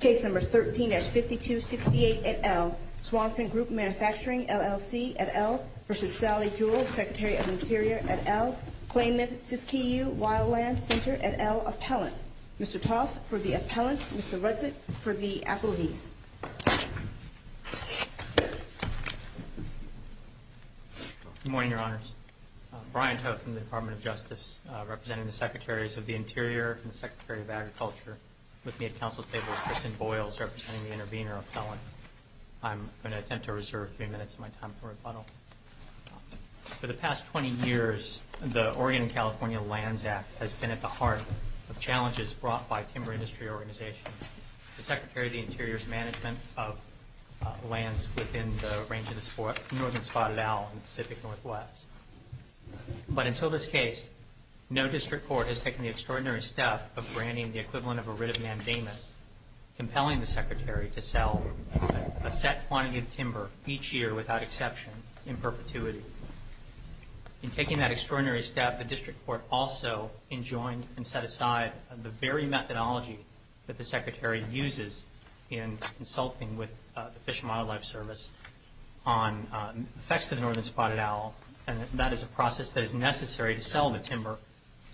Case No. 13-5268 et al. Swanson Group Mfg. LLC et al. v. Sally Jewell, Secretary of the Interior et al. Claimant, Siskiyou Wildlands Center et al. Appellants. Mr. Toth for the appellants, Mr. Rudzik for the appellees. Good morning, Your Honors. Brian Toth from the Department of Justice, representing the Secretaries of the Interior and the Secretary of Agriculture. With me at council table is Kristen Boyles, representing the intervener appellants. I'm going to attempt to reserve a few minutes of my time for rebuttal. For the past 20 years, the Oregon and California Lands Act has been at the heart of challenges brought by timber industry organizations. The Secretary of the Interior's management of lands within the range of the Northern Spotted Owl and the Pacific Northwest. But until this case, no district court has taken the extraordinary step of granting the equivalent of a writ of mandamus, compelling the Secretary to sell a set quantity of timber each year without exception in perpetuity. In taking that extraordinary step, the district court also enjoined and set aside the very methodology that the Secretary uses in consulting with the Fish and Wildlife Service on effects to the Northern Spotted Owl. And that is a process that is necessary to sell the timber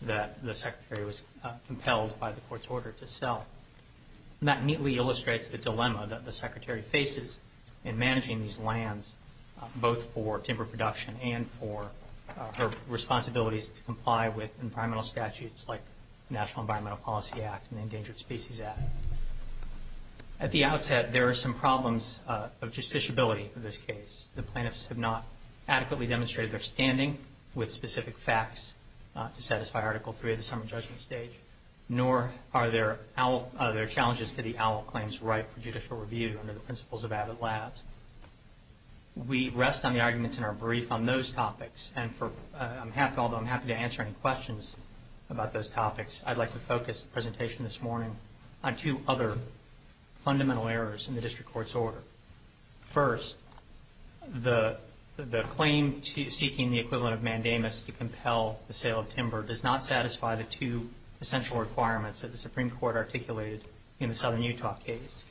that the Secretary was compelled by the court's order to sell. That neatly illustrates the dilemma that the Secretary faces in managing these lands, both for timber production and for her responsibilities to comply with environmental statutes like the National Environmental Policy Act and the Endangered Species Act. At the outset, there are some problems of justiciability in this case. The plaintiffs have not adequately demonstrated their standing with specific facts to satisfy Article III of the Summer Judgment Stage, nor are their challenges to the owl claims ripe for judicial review under the principles of AVID Labs. We rest on the arguments in our brief on those topics, and although I'm happy to answer any questions about those topics, I'd like to focus the presentation this morning on two other fundamental errors in the district court's order. First, the claim seeking the equivalent of mandamus to compel the sale of timber does not satisfy the two essential requirements that the Supreme Court articulated in the Southern Utah case.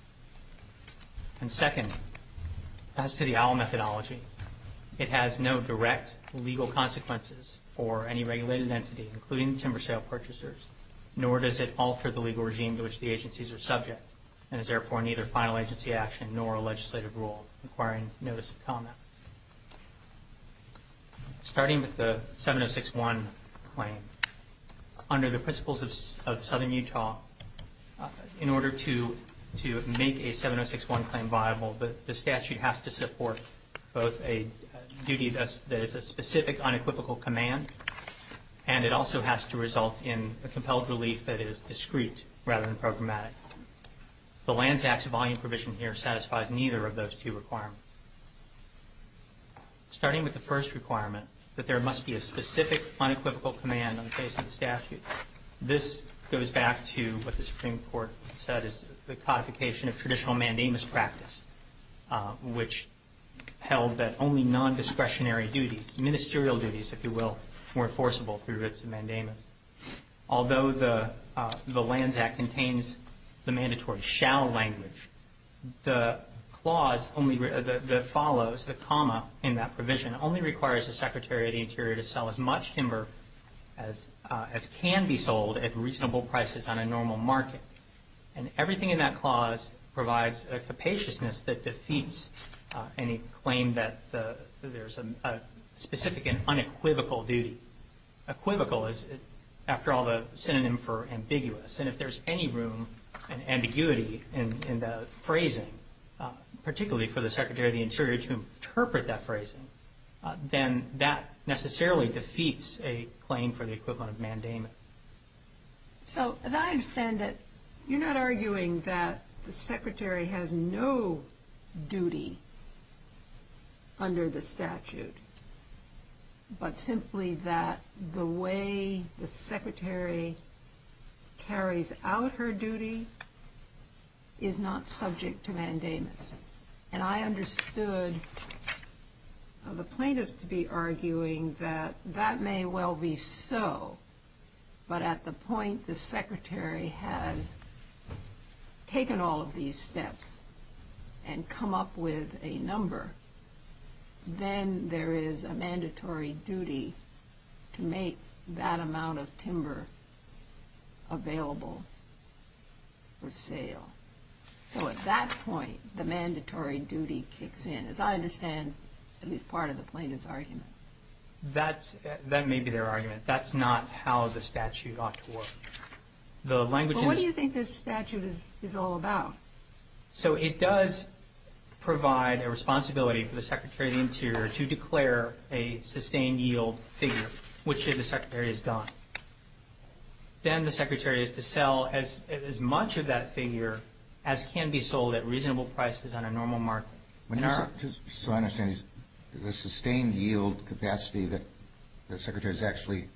And second, as to the owl methodology, it has no direct legal consequences for any regulated entity, including timber sale purchasers, nor does it alter the legal regime to which the agencies are subject and is therefore neither final agency action nor a legislative rule, requiring notice of comment. Starting with the 706.1 claim, under the principles of Southern Utah, in order to make a 706.1 claim viable, the statute has to support both a duty that is a specific unequivocal command, and it also has to result in a compelled relief that is discrete rather than programmatic. The Lands Act's volume provision here satisfies neither of those two requirements. Starting with the first requirement, that there must be a specific unequivocal command in the case of the statute, this goes back to what the Supreme Court said is the codification of traditional mandamus practice, which held that only nondiscretionary duties, ministerial duties, if you will, were enforceable through its mandamus. Although the Lands Act contains the mandatory shall language, the clause that follows, the comma in that provision, only requires the Secretary of the Interior to sell as much timber as can be sold at reasonable prices on a normal market. And everything in that clause provides a capaciousness that defeats any claim that there's a specific and unequivocal duty. Unequivocal is, after all, the synonym for ambiguous, and if there's any room and ambiguity in the phrasing, particularly for the Secretary of the Interior to interpret that phrasing, then that necessarily defeats a claim for the equivalent of mandamus. So, as I understand it, you're not arguing that the Secretary has no duty under the statute, but simply that the way the Secretary carries out her duty is not subject to mandamus. And I understood the plaintiffs to be arguing that that may well be so, but at the point the Secretary has taken all of these steps and come up with a number, then there is a mandatory duty to make that amount of timber available for sale. So at that point, the mandatory duty kicks in. As I understand, at least part of the plaintiff's argument. That may be their argument. That's not how the statute ought to work. But what do you think this statute is all about? So it does provide a responsibility for the Secretary of the Interior to declare a sustained yield figure, which the Secretary has done. Then the Secretary is to sell as much of that figure as can be sold at reasonable prices on a normal market. Just so I understand, the sustained yield capacity that the Secretary has actually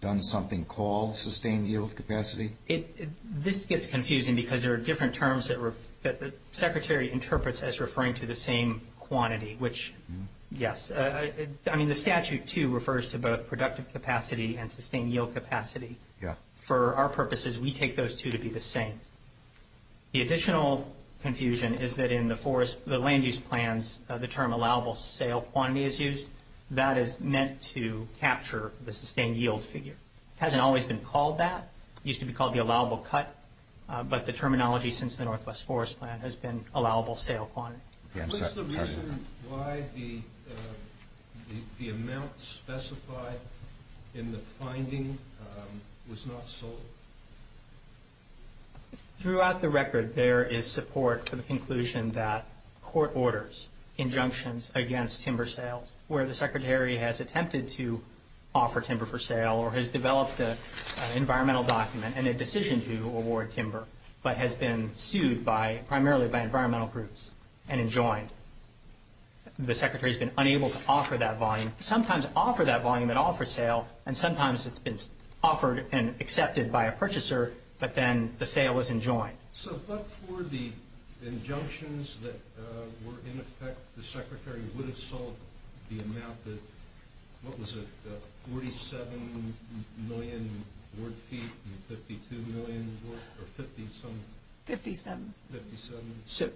done something called sustained yield capacity? This gets confusing because there are different terms that the Secretary interprets as referring to the same quantity, which, yes. The statute, too, refers to both productive capacity and sustained yield capacity. For our purposes, we take those two to be the same. The additional confusion is that in the land use plans, the term allowable sale quantity is used. That is meant to capture the sustained yield figure. It hasn't always been called that. It used to be called the allowable cut, but the terminology since the Northwest Forest Plan has been allowable sale quantity. What's the reason why the amount specified in the finding was not sold? Throughout the record, there is support for the conclusion that court orders injunctions against timber sales, where the Secretary has attempted to offer timber for sale or has developed an environmental document and a decision to award timber but has been sued primarily by environmental groups. The Secretary has been unable to offer that volume. Sometimes offer that volume at offer sale, and sometimes it's been offered and accepted by a purchaser, but then the sale is enjoined. So, but for the injunctions that were in effect, the Secretary would have sold the amount that, what was it, 47 million word feet and 52 million or 50-some? Fifty-seven. Fifty-seven.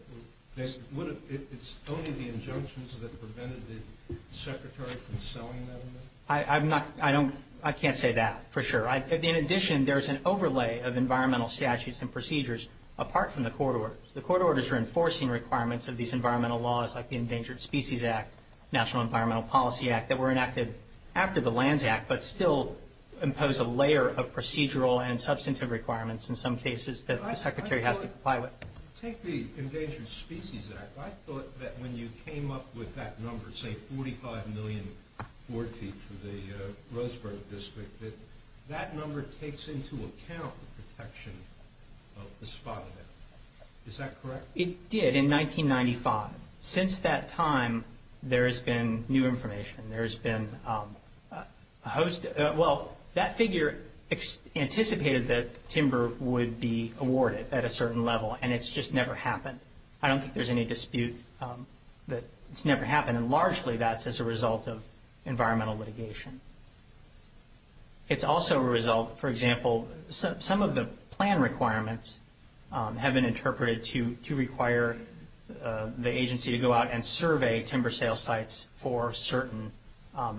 It's only the injunctions that prevented the Secretary from selling that amount? I can't say that for sure. In addition, there's an overlay of environmental statutes and procedures apart from the court orders. The court orders are enforcing requirements of these environmental laws like the Endangered Species Act, National Environmental Policy Act that were enacted after the Lands Act but still impose a layer of procedural and substantive requirements in some cases that the Secretary has to comply with. Take the Endangered Species Act. I thought that when you came up with that number, say 45 million word feet for the Roseburg District, that that number takes into account the protection of the spot event. Is that correct? It did in 1995. Since that time, there has been new information. There has been, well, that figure anticipated that timber would be awarded at a certain level, and it's just never happened. I don't think there's any dispute that it's never happened, and largely that's as a result of environmental litigation. It's also a result, for example, some of the plan requirements have been interpreted to require the agency to go out and survey timber sales sites for certain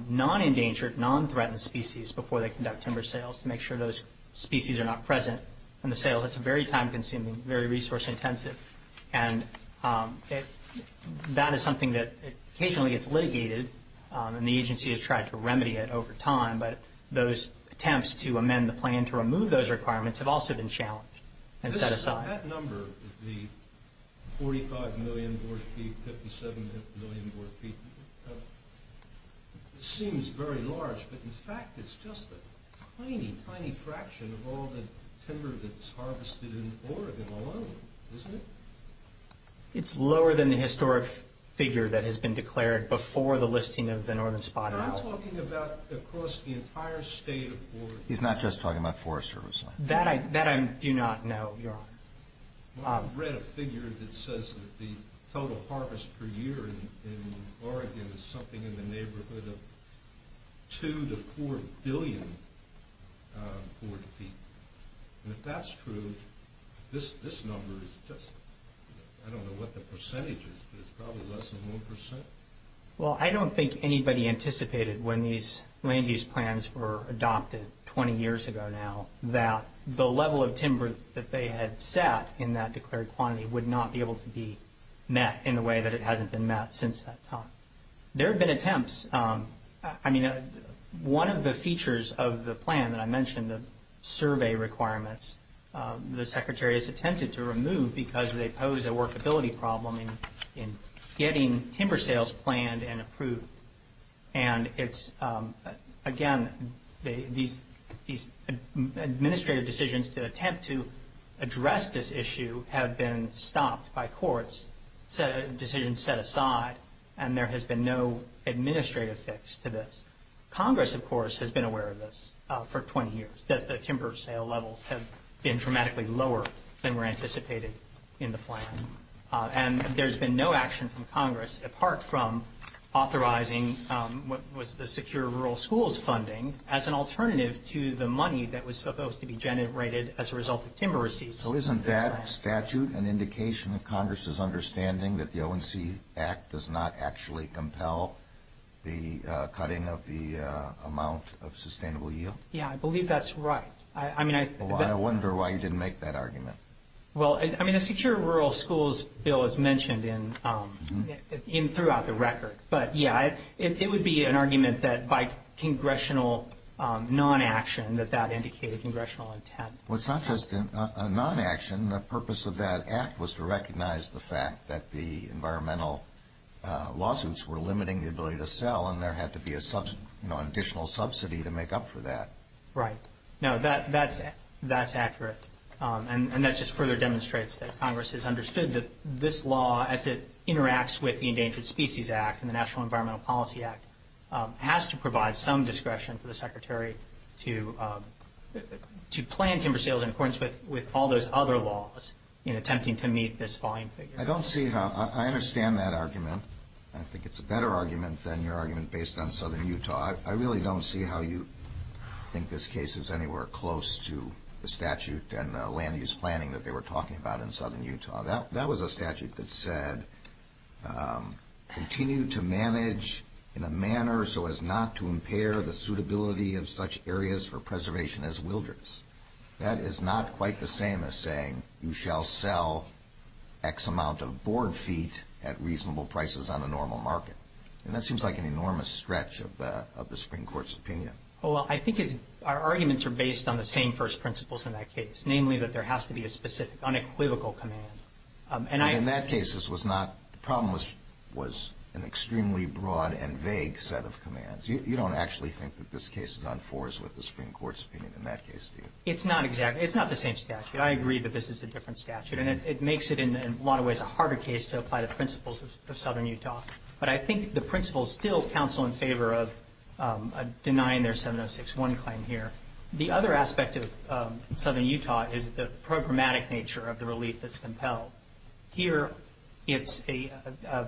non-endangered, non-threatened species before they conduct timber sales to make sure those species are not present in the sales. That's very time-consuming, very resource-intensive, and that is something that occasionally gets litigated, and the agency has tried to remedy it over time, but those attempts to amend the plan to remove those requirements have also been challenged and set aside. That number, the 45 million word feet, 57 million word feet, seems very large, but in fact it's just a tiny, tiny fraction of all the timber that's harvested in Oregon alone, isn't it? It's lower than the historic figure that has been declared before the listing of the Northern Spot. I'm talking about across the entire state of Oregon. He's not just talking about Forest Service. That I do not know, Your Honor. I've read a figure that says the total harvest per year in Oregon is something in the neighborhood of 2 to 4 billion word feet, and if that's true, this number is just, I don't know what the percentage is, but it's probably less than 1%. Well, I don't think anybody anticipated when these land use plans were adopted 20 years ago now that the level of timber that they had set in that declared quantity would not be able to be met in the way that it hasn't been met since that time. There have been attempts. I mean, one of the features of the plan that I mentioned, the survey requirements, the Secretary has attempted to remove because they pose a workability problem in getting timber sales planned and approved, and it's, again, these administrative decisions to attempt to address this issue have been stopped by courts, decisions set aside, and there has been no administrative fix to this. Congress, of course, has been aware of this for 20 years, that the timber sale levels have been dramatically lower than were anticipated in the plan, and there's been no action from Congress apart from authorizing what was the secure rural schools funding as an alternative to the money that was supposed to be generated as a result of timber receipts. So isn't that statute an indication of Congress's understanding that the ONC Act does not actually compel the cutting of the amount of sustainable yield? Yeah, I believe that's right. Well, I wonder why you didn't make that argument. Well, I mean, the secure rural schools bill is mentioned throughout the record, but, yeah, it would be an argument that by congressional non-action that that indicated congressional intent. Well, it's not just a non-action. The purpose of that act was to recognize the fact that the environmental lawsuits were limiting the ability to sell, and there had to be an additional subsidy to make up for that. Right. No, that's accurate. And that just further demonstrates that Congress has understood that this law, as it interacts with the Endangered Species Act and the National Environmental Policy Act, has to provide some discretion for the Secretary to plan timber sales in accordance with all those other laws in attempting to meet this volume figure. I don't see how – I understand that argument. I think it's a better argument than your argument based on southern Utah. I really don't see how you think this case is anywhere close to the statute and land-use planning that they were talking about in southern Utah. That was a statute that said, continue to manage in a manner so as not to impair the suitability of such areas for preservation as wilderness. That is not quite the same as saying you shall sell X amount of board feet at reasonable prices on a normal market. And that seems like an enormous stretch of the Supreme Court's opinion. Well, I think our arguments are based on the same first principles in that case, namely that there has to be a specific unequivocal command. But in that case, this was not – the problem was an extremely broad and vague set of commands. You don't actually think that this case is on fours with the Supreme Court's opinion in that case, do you? It's not the same statute. I agree that this is a different statute, and it makes it in a lot of ways a harder case to apply the principles of southern Utah. But I think the principles still counsel in favor of denying their 706-1 claim here. The other aspect of southern Utah is the programmatic nature of the relief that's compelled. Here, it's a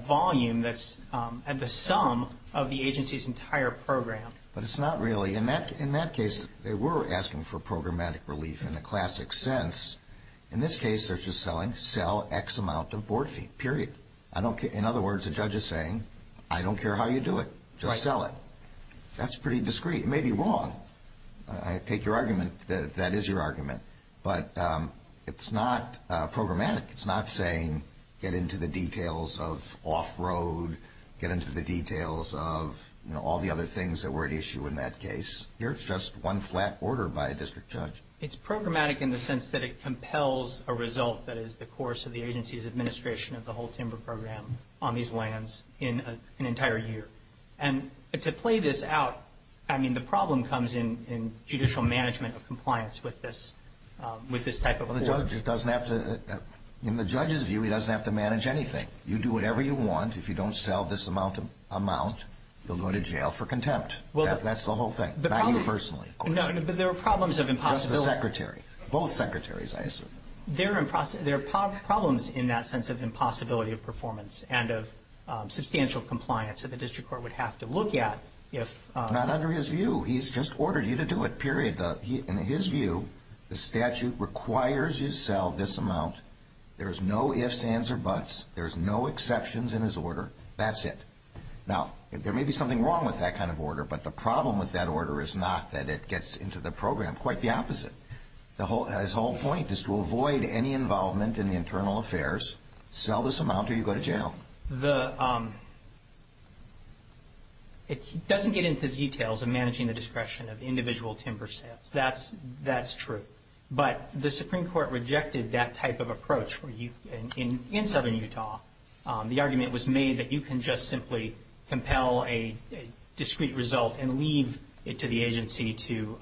volume that's at the sum of the agency's entire program. But it's not really. In that case, they were asking for programmatic relief in the classic sense. In this case, they're just selling, sell X amount of board feet, period. In other words, the judge is saying, I don't care how you do it. Just sell it. That's pretty discreet. It may be wrong. I take your argument. That is your argument. But it's not programmatic. It's not saying get into the details of off-road, get into the details of all the other things that were at issue in that case. Here, it's just one flat order by a district judge. It's programmatic in the sense that it compels a result that is the course of the agency's administration of the whole timber program on these lands in an entire year. And to play this out, I mean, the problem comes in judicial management of compliance with this type of court. Well, the judge doesn't have to – in the judge's view, he doesn't have to manage anything. You do whatever you want. If you don't sell this amount, you'll go to jail for contempt. That's the whole thing, not you personally. No, but there are problems of impossibility. Just the secretary. Both secretaries, I assume. There are problems in that sense of impossibility of performance and of substantial compliance that the district court would have to look at if – Not under his view. He's just ordered you to do it, period. In his view, the statute requires you to sell this amount. There's no ifs, ands, or buts. There's no exceptions in his order. That's it. Now, there may be something wrong with that kind of order, but the problem with that order is not that it gets into the program. Quite the opposite. His whole point is to avoid any involvement in the internal affairs, sell this amount, or you go to jail. It doesn't get into the details of managing the discretion of individual timber sales. That's true. But the Supreme Court rejected that type of approach. In southern Utah, the argument was made that you can just simply compel a discreet result and leave it to the agency to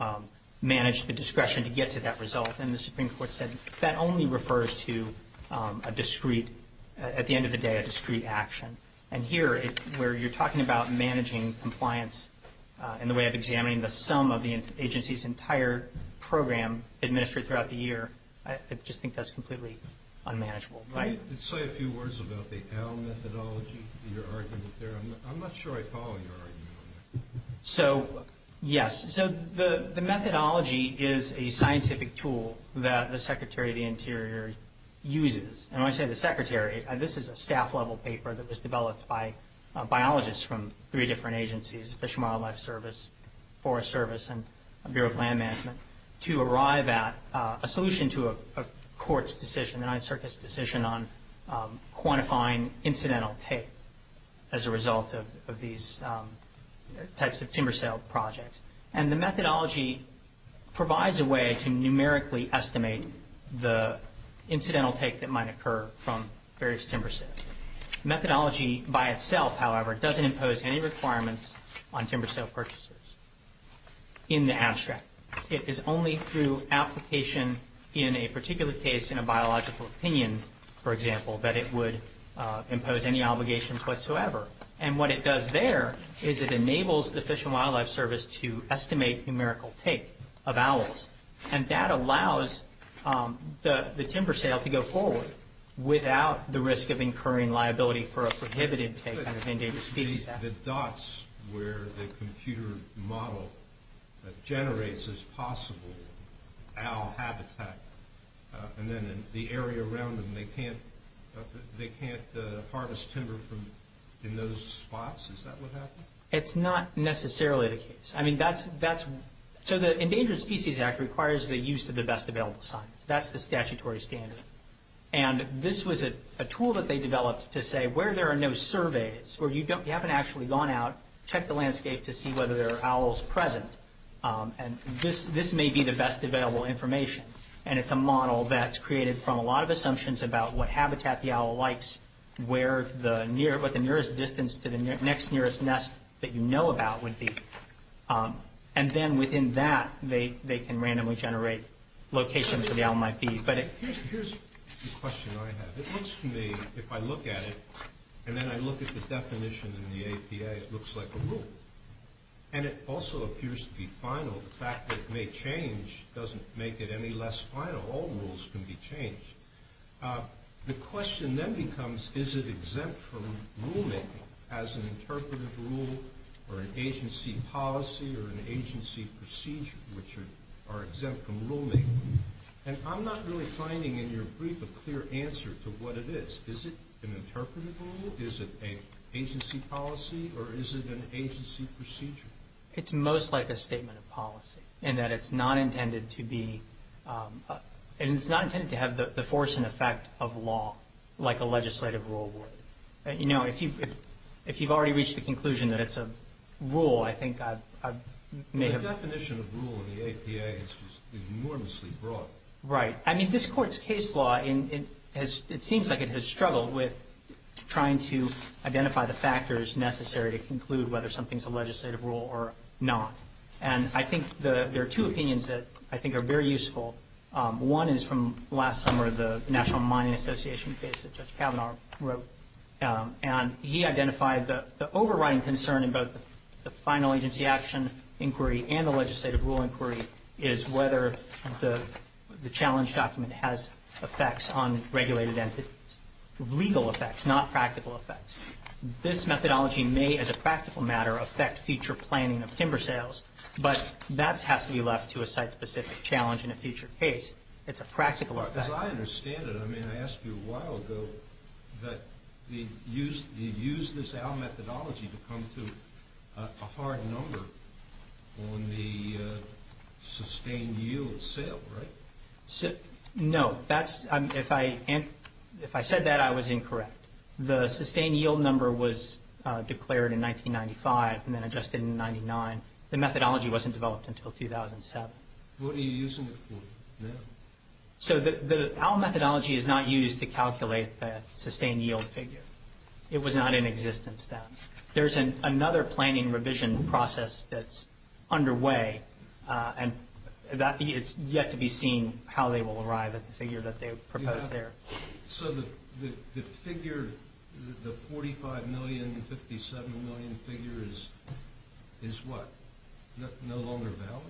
manage the discretion to get to that result, and the Supreme Court said that only refers to a discreet – at the end of the day, a discreet action. And here, where you're talking about managing compliance in the way of examining the sum of the agency's entire program administered throughout the year, I just think that's completely unmanageable. Can you say a few words about the AL methodology, your argument there? I'm not sure I follow your argument on that. So, yes. So the methodology is a scientific tool that the Secretary of the Interior uses. And when I say the Secretary, this is a staff-level paper that was developed by biologists from three different agencies, Fish and Wildlife Service, Forest Service, and Bureau of Land Management, to arrive at a solution to a court's decision, the Ninth Circus decision, on quantifying incidental take as a result of these types of timber sale projects. And the methodology provides a way to numerically estimate the incidental take that might occur from various timber sales. The methodology by itself, however, doesn't impose any requirements on timber sale purchases in the abstract. It is only through application in a particular case, in a biological opinion, for example, that it would impose any obligations whatsoever. And what it does there is it enables the Fish and Wildlife Service to estimate numerical take of owls. And that allows the timber sale to go forward without the risk of incurring liability for a prohibited take under the Endangered Species Act. The dots where the computer model generates as possible owl habitat, and then the area around them, they can't harvest timber in those spots? Is that what happened? It's not necessarily the case. So the Endangered Species Act requires the use of the best available science. That's the statutory standard. And this was a tool that they developed to say where there are no surveys, where you haven't actually gone out, checked the landscape to see whether there are owls present, and this may be the best available information. And it's a model that's created from a lot of assumptions about what habitat the owl likes, what the nearest distance to the next nearest nest that you know about would be. And then within that, they can randomly generate locations where the owl might be. Here's a question I have. It looks to me, if I look at it, and then I look at the definition in the APA, it looks like a rule. And it also appears to be final. The fact that it may change doesn't make it any less final. All rules can be changed. The question then becomes, is it exempt from rulemaking as an interpretive rule or an agency policy or an agency procedure, which are exempt from rulemaking? And I'm not really finding in your brief a clear answer to what it is. Is it an interpretive rule? Is it an agency policy? Or is it an agency procedure? It's most like a statement of policy in that it's not intended to be and it's not intended to have the force and effect of law like a legislative rule would. You know, if you've already reached the conclusion that it's a rule, I think I may have The definition of rule in the APA is enormously broad. Right. I mean, this Court's case law, it seems like it has struggled with trying to identify the factors necessary to conclude whether something's a legislative rule or not. And I think there are two opinions that I think are very useful. One is from last summer, the National Mining Association case that Judge Kavanaugh wrote. And he identified the overriding concern in both the final agency action inquiry and the legislative rule inquiry is whether the challenge document has effects on regulated entities, legal effects, not practical effects. This methodology may, as a practical matter, affect future planning of timber sales, but that has to be left to a site-specific challenge in a future case. It's a practical effect. As I understand it, I mean, I asked you a while ago that you used this AL methodology to come to a hard number on the sustained yield sale, right? No. If I said that, I was incorrect. The sustained yield number was declared in 1995 and then adjusted in 1999. The methodology wasn't developed until 2007. What are you using it for now? So the AL methodology is not used to calculate the sustained yield figure. It was not in existence then. There's another planning revision process that's underway, and it's yet to be seen how they will arrive at the figure that they proposed there. So the figure, the $45 million, $57 million figure is what? No longer valid?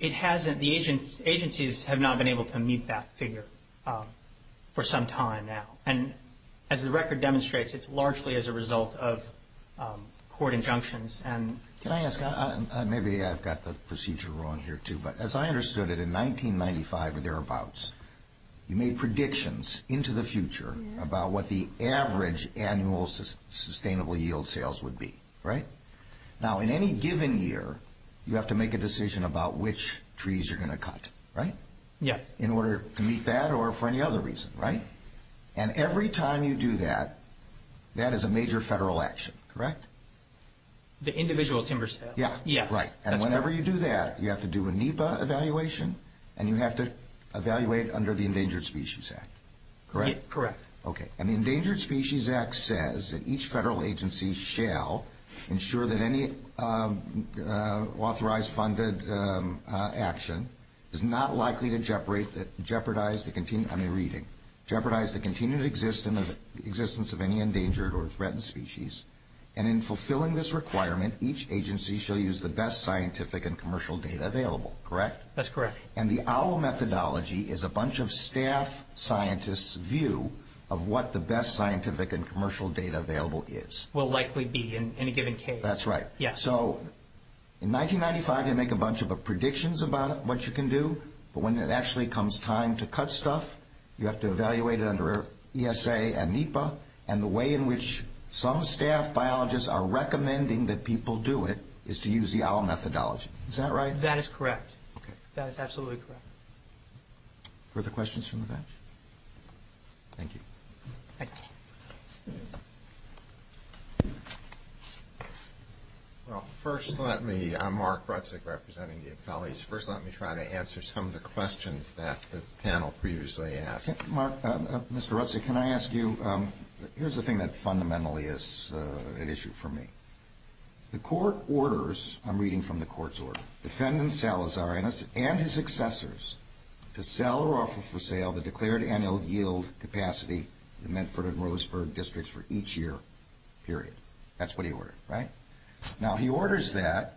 It hasn't. The agencies have not been able to meet that figure for some time now. And as the record demonstrates, it's largely as a result of court injunctions. Can I ask, maybe I've got the procedure wrong here, too, but as I understood it in 1995 or thereabouts, you made predictions into the future about what the average annual sustainable yield sales would be, right? Now, in any given year, you have to make a decision about which trees you're going to cut, right? Yeah. In order to meet that or for any other reason, right? And every time you do that, that is a major federal action, correct? The individual timber sales. Yeah. Yeah. Right. And whenever you do that, you have to do a NEPA evaluation, and you have to evaluate under the Endangered Species Act, correct? Correct. Okay. And the Endangered Species Act says that each federal agency shall ensure that any authorized funded action is not likely to jeopardize the continued existence of any endangered or threatened species. And in fulfilling this requirement, each agency shall use the best scientific and commercial data available, correct? That's correct. And the OWL methodology is a bunch of staff scientists' view of what the best scientific and commercial data available is. Will likely be in any given case. That's right. Yeah. So in 1995, you make a bunch of predictions about what you can do, but when it actually comes time to cut stuff, you have to evaluate it under ESA and NEPA, and the way in which some staff biologists are recommending that people do it is to use the OWL methodology. Is that right? That is correct. Okay. That is absolutely correct. Further questions from the bench? Thank you. Thank you. Well, first let me, I'm Mark Rutzig representing the appellees. First let me try to answer some of the questions that the panel previously asked. Mr. Rutzig, can I ask you, here's the thing that fundamentally is an issue for me. The court orders, I'm reading from the court's order, defendant Salazar and his successors to sell or offer for sale the declared annual yield capacity in the Medford and Roseburg districts for each year, period. That's what he ordered, right? Now, he orders that,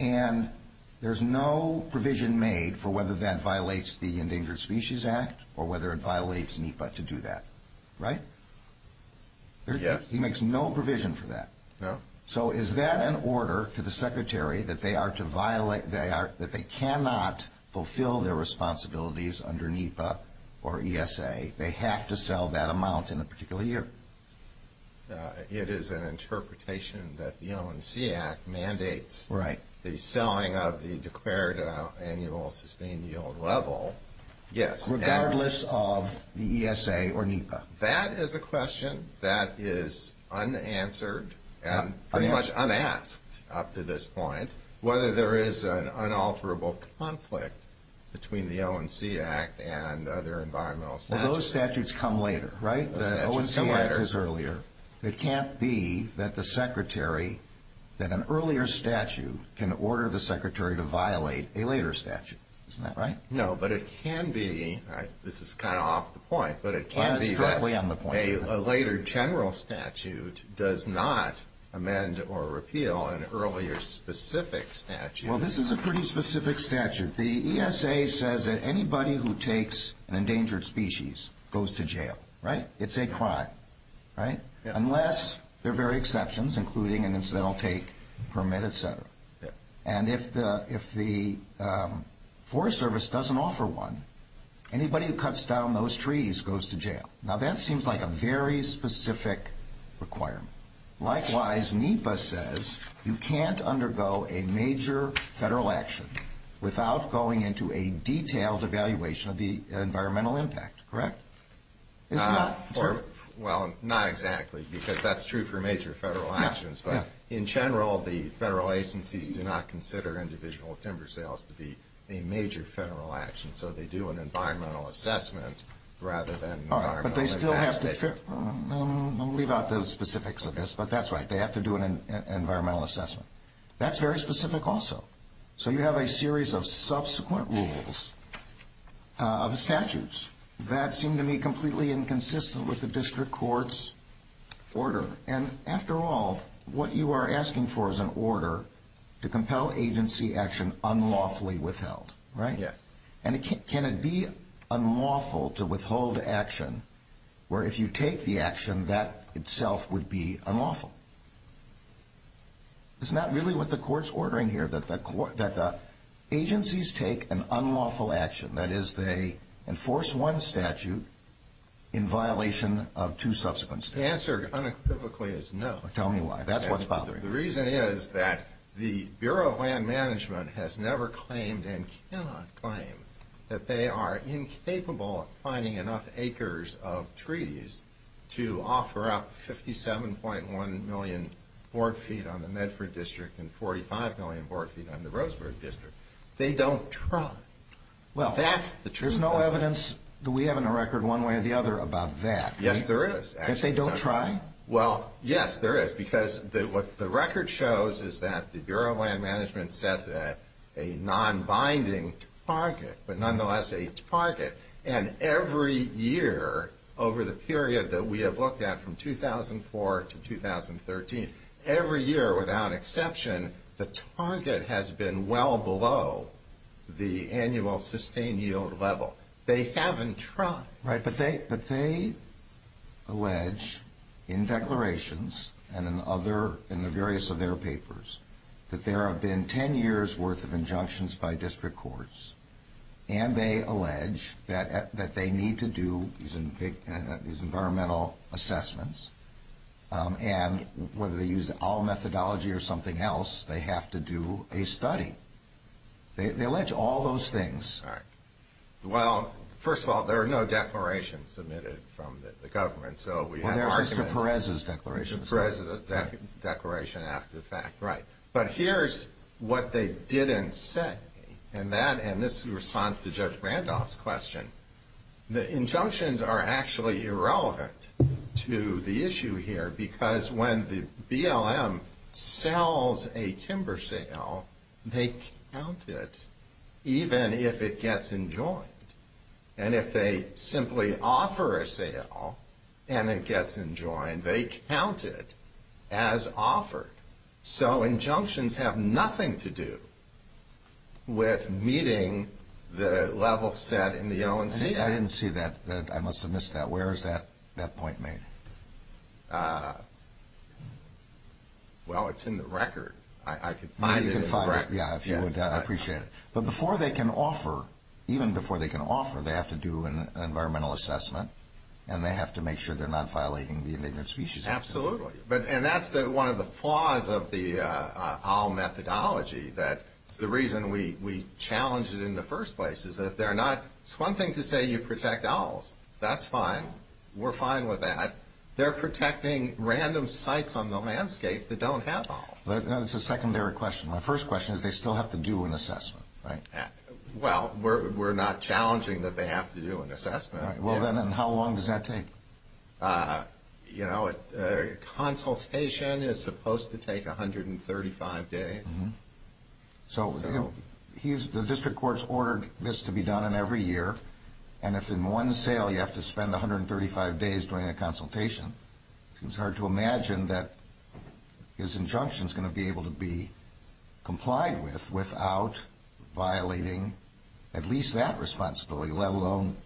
and there's no provision made for whether that violates the Endangered Species Act or whether it violates NEPA to do that, right? Yes. He makes no provision for that. No. So is that an order to the secretary that they are to violate, that they cannot fulfill their responsibilities under NEPA or ESA? They have to sell that amount in a particular year. It is an interpretation that the ONC Act mandates the selling of the declared annual sustained yield level. Yes. Regardless of the ESA or NEPA. That is a question that is unanswered and pretty much unasked up to this point, whether there is an unalterable conflict between the ONC Act and other environmental statutes. Well, those statutes come later, right? The ONC Act is earlier. It can't be that the secretary, that an earlier statute can order the secretary to violate a later statute. Isn't that right? No, but it can be, this is kind of off the point, but it can be that a later general statute does not amend or repeal an earlier specific statute. Well, this is a pretty specific statute. The ESA says that anybody who takes an endangered species goes to jail, right? It's a crime, right? Unless there are various exceptions, including an incidental take permit, etc. And if the Forest Service doesn't offer one, anybody who cuts down those trees goes to jail. Now, that seems like a very specific requirement. Likewise, NEPA says you can't undergo a major federal action without going into a detailed evaluation of the environmental impact. Correct? It's not true. Well, not exactly, because that's true for major federal actions. In general, the federal agencies do not consider individual timber sales to be a major federal action, so they do an environmental assessment rather than environmental impact. All right, but they still have to, I'll leave out the specifics of this, but that's right, they have to do an environmental assessment. That's very specific also. So you have a series of subsequent rules of statutes. That seemed to me completely inconsistent with the district court's order. And after all, what you are asking for is an order to compel agency action unlawfully withheld, right? Yes. And can it be unlawful to withhold action where if you take the action, that itself would be unlawful? It's not really what the court's ordering here, that the agencies take an unlawful action, that is they enforce one statute in violation of two subsequent statutes. The answer unequivocally is no. Tell me why. That's what's bothering me. The reason is that the Bureau of Land Management has never claimed and cannot claim that they are incapable of finding enough acres of trees to offer up 57.1 million board feet on the Medford district and 45 million board feet on the Roseburg district. They don't try. Well, there's no evidence that we have in the record one way or the other about that. Yes, there is. That they don't try? Well, yes, there is, because what the record shows is that the Bureau of Land Management sets a nonbinding target, but nonetheless a target. And every year over the period that we have looked at from 2004 to 2013, every year without exception, the target has been well below the annual sustained yield level. They haven't tried. Right, but they allege in declarations and in the various of their papers that there have been 10 years' worth of injunctions by district courts, and they allege that they need to do these environmental assessments, and whether they use all methodology or something else, they have to do a study. They allege all those things. All right. Well, first of all, there are no declarations submitted from the government, so we have arguments. Well, there's Mr. Perez's declaration. Mr. Perez's declaration after the fact. Right. But here's what they didn't say, and this responds to Judge Randolph's question. The injunctions are actually irrelevant to the issue here because when the BLM sells a timber sale, they count it even if it gets enjoined. And if they simply offer a sale and it gets enjoined, they count it as offered. So injunctions have nothing to do with meeting the level set in the ONCA. I didn't see that. I must have missed that. Where is that point made? Well, it's in the record. I can find it in the record. Yeah, if you would. I appreciate it. But before they can offer, even before they can offer, they have to do an environmental assessment, and they have to make sure they're not violating the Endangered Species Act. Absolutely. And that's one of the flaws of the owl methodology. The reason we challenged it in the first place is that they're not... It's one thing to say you protect owls. That's fine. We're fine with that. They're protecting random sites on the landscape that don't have owls. That's a secondary question. My first question is they still have to do an assessment, right? Well, we're not challenging that they have to do an assessment. Well, then how long does that take? You know, a consultation is supposed to take 135 days. So the district courts ordered this to be done in every year, and if in one sale you have to spend 135 days doing a consultation, it seems hard to imagine that his injunction is going to be able to be complied with without violating at least that responsibility, let alone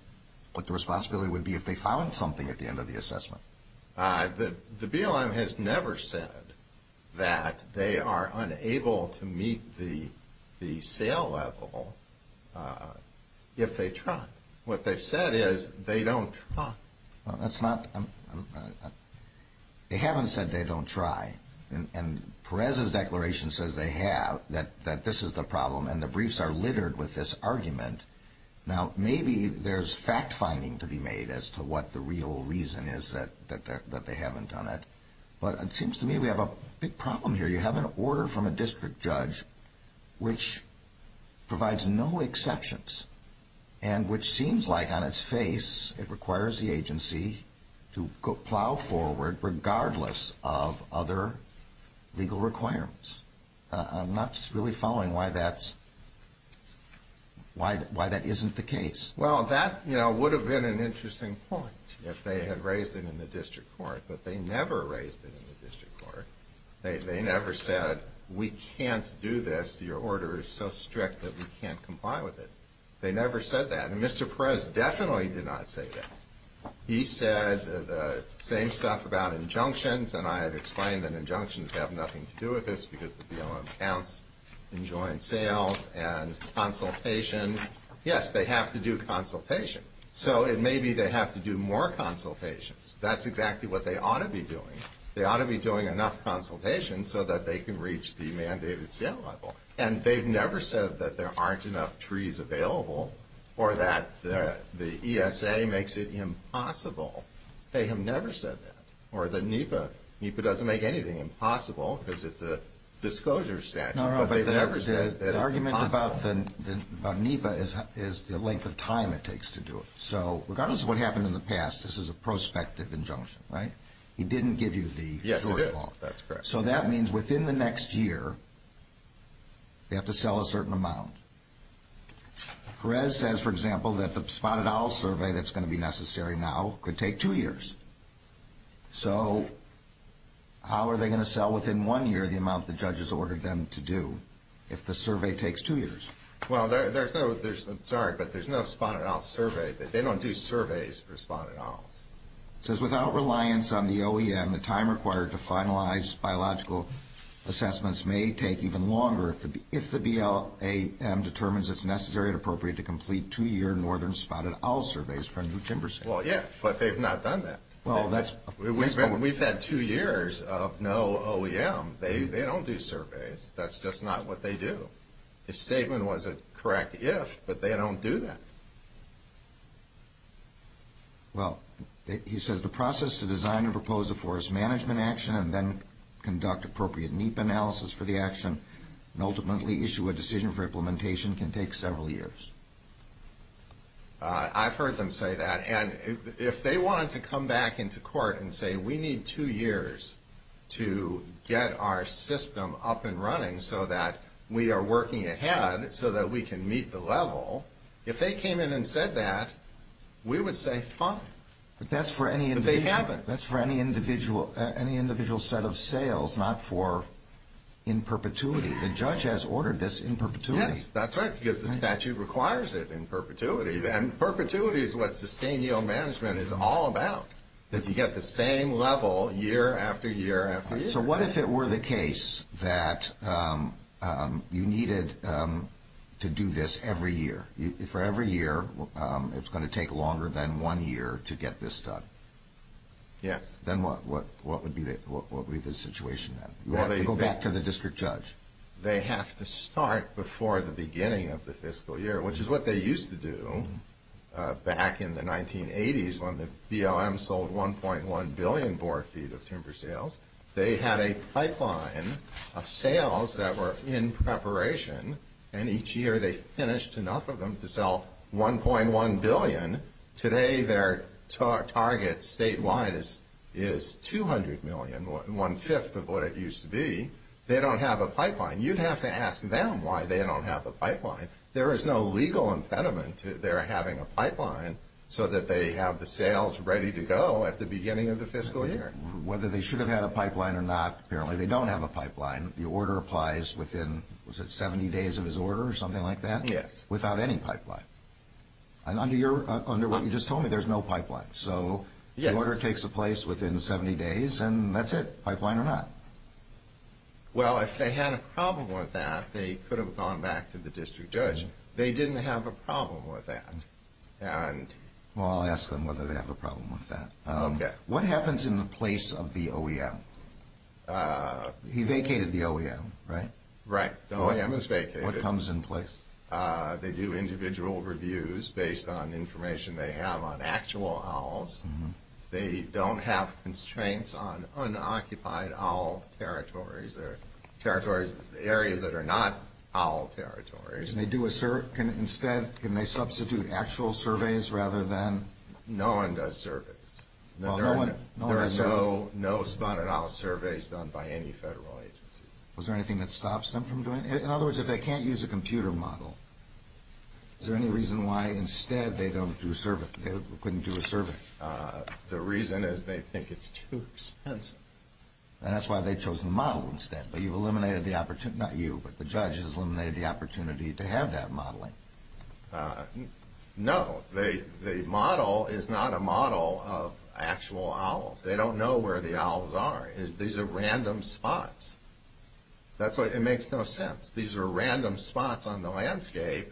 what the responsibility would be if they found something at the end of the assessment. The BLM has never said that they are unable to meet the sale level if they truck. What they've said is they don't truck. They haven't said they don't try, and Perez's declaration says they have, that this is the problem, and the briefs are littered with this argument. Now, maybe there's fact-finding to be made as to what the real reason is that they haven't done it, but it seems to me we have a big problem here. You have an order from a district judge which provides no exceptions and which seems like on its face it requires the agency to plow forward regardless of other legal requirements. I'm not really following why that isn't the case. Well, that would have been an interesting point if they had raised it in the district court, but they never raised it in the district court. They never said we can't do this. Your order is so strict that we can't comply with it. They never said that, and Mr. Perez definitely did not say that. He said the same stuff about injunctions, and I have explained that injunctions have nothing to do with this because the BLM counts in joint sales and consultation. Yes, they have to do consultation, so maybe they have to do more consultations. That's exactly what they ought to be doing. They ought to be doing enough consultation so that they can reach the mandated sale level, and they've never said that there aren't enough trees available or that the ESA makes it impossible. They have never said that, or that NEPA doesn't make anything impossible because it's a disclosure statute, but they've never said that it's impossible. The argument about NEPA is the length of time it takes to do it. So regardless of what happened in the past, this is a prospective injunction, right? He didn't give you the shortfall. Yes, it is. That's correct. So that means within the next year they have to sell a certain amount. Perez says, for example, that the Spotted Owls survey that's going to be necessary now could take two years. So how are they going to sell within one year the amount the judges ordered them to do if the survey takes two years? Well, there's no Spotted Owls survey. They don't do surveys for Spotted Owls. It says, without reliance on the OEM, the time required to finalize biological assessments may take even longer if the BLAM determines it's necessary and appropriate to complete two-year Northern Spotted Owls surveys for new timber sales. Well, yeah, but they've not done that. We've had two years of no OEM. They don't do surveys. That's just not what they do. His statement was a correct if, but they don't do that. Well, he says the process to design and propose a forest management action and then conduct appropriate NEPA analysis for the action and ultimately issue a decision for implementation can take several years. I've heard them say that. And if they wanted to come back into court and say we need two years to get our system up and running so that we are working ahead so that we can meet the level, if they came in and said that, we would say fine. But that's for any individual. But they haven't. That's for any individual set of sales, not for in perpetuity. The judge has ordered this in perpetuity. Yes, that's right, because the statute requires it in perpetuity. And perpetuity is what sustained yield management is all about, that you get the same level year after year after year. So what if it were the case that you needed to do this every year? For every year, it's going to take longer than one year to get this done. Yes. Then what would be the situation then? You have to go back to the district judge. They have to start before the beginning of the fiscal year, which is what they used to do back in the 1980s when the BLM sold 1.1 billion bore feet of timber sales. They had a pipeline of sales that were in preparation, and each year they finished enough of them to sell 1.1 billion. Today their target statewide is 200 million, one-fifth of what it used to be. They don't have a pipeline. You'd have to ask them why they don't have a pipeline. There is no legal impediment to their having a pipeline so that they have the sales ready to go at the beginning of the fiscal year. Whether they should have had a pipeline or not, apparently they don't have a pipeline. The order applies within, was it 70 days of his order or something like that? Yes. Without any pipeline. Under what you just told me, there's no pipeline. So the order takes place within 70 days, and that's it, pipeline or not. Well, if they had a problem with that, they could have gone back to the district judge. They didn't have a problem with that. Well, I'll ask them whether they have a problem with that. Okay. What happens in the place of the OEM? He vacated the OEM, right? Right. The OEM is vacated. What comes in place? They do individual reviews based on information they have on actual owls. They don't have constraints on unoccupied owl territories or areas that are not owl territories. Can they substitute actual surveys rather than? No one does surveys. There are no spotted owl surveys done by any federal agency. Was there anything that stops them from doing it? In other words, if they can't use a computer model, is there any reason why instead they couldn't do a survey? The reason is they think it's too expensive. And that's why they chose the model instead. But you've eliminated the opportunity, not you, but the judge has eliminated the opportunity to have that modeling. No. The model is not a model of actual owls. They don't know where the owls are. These are random spots. That's why it makes no sense. These are random spots on the landscape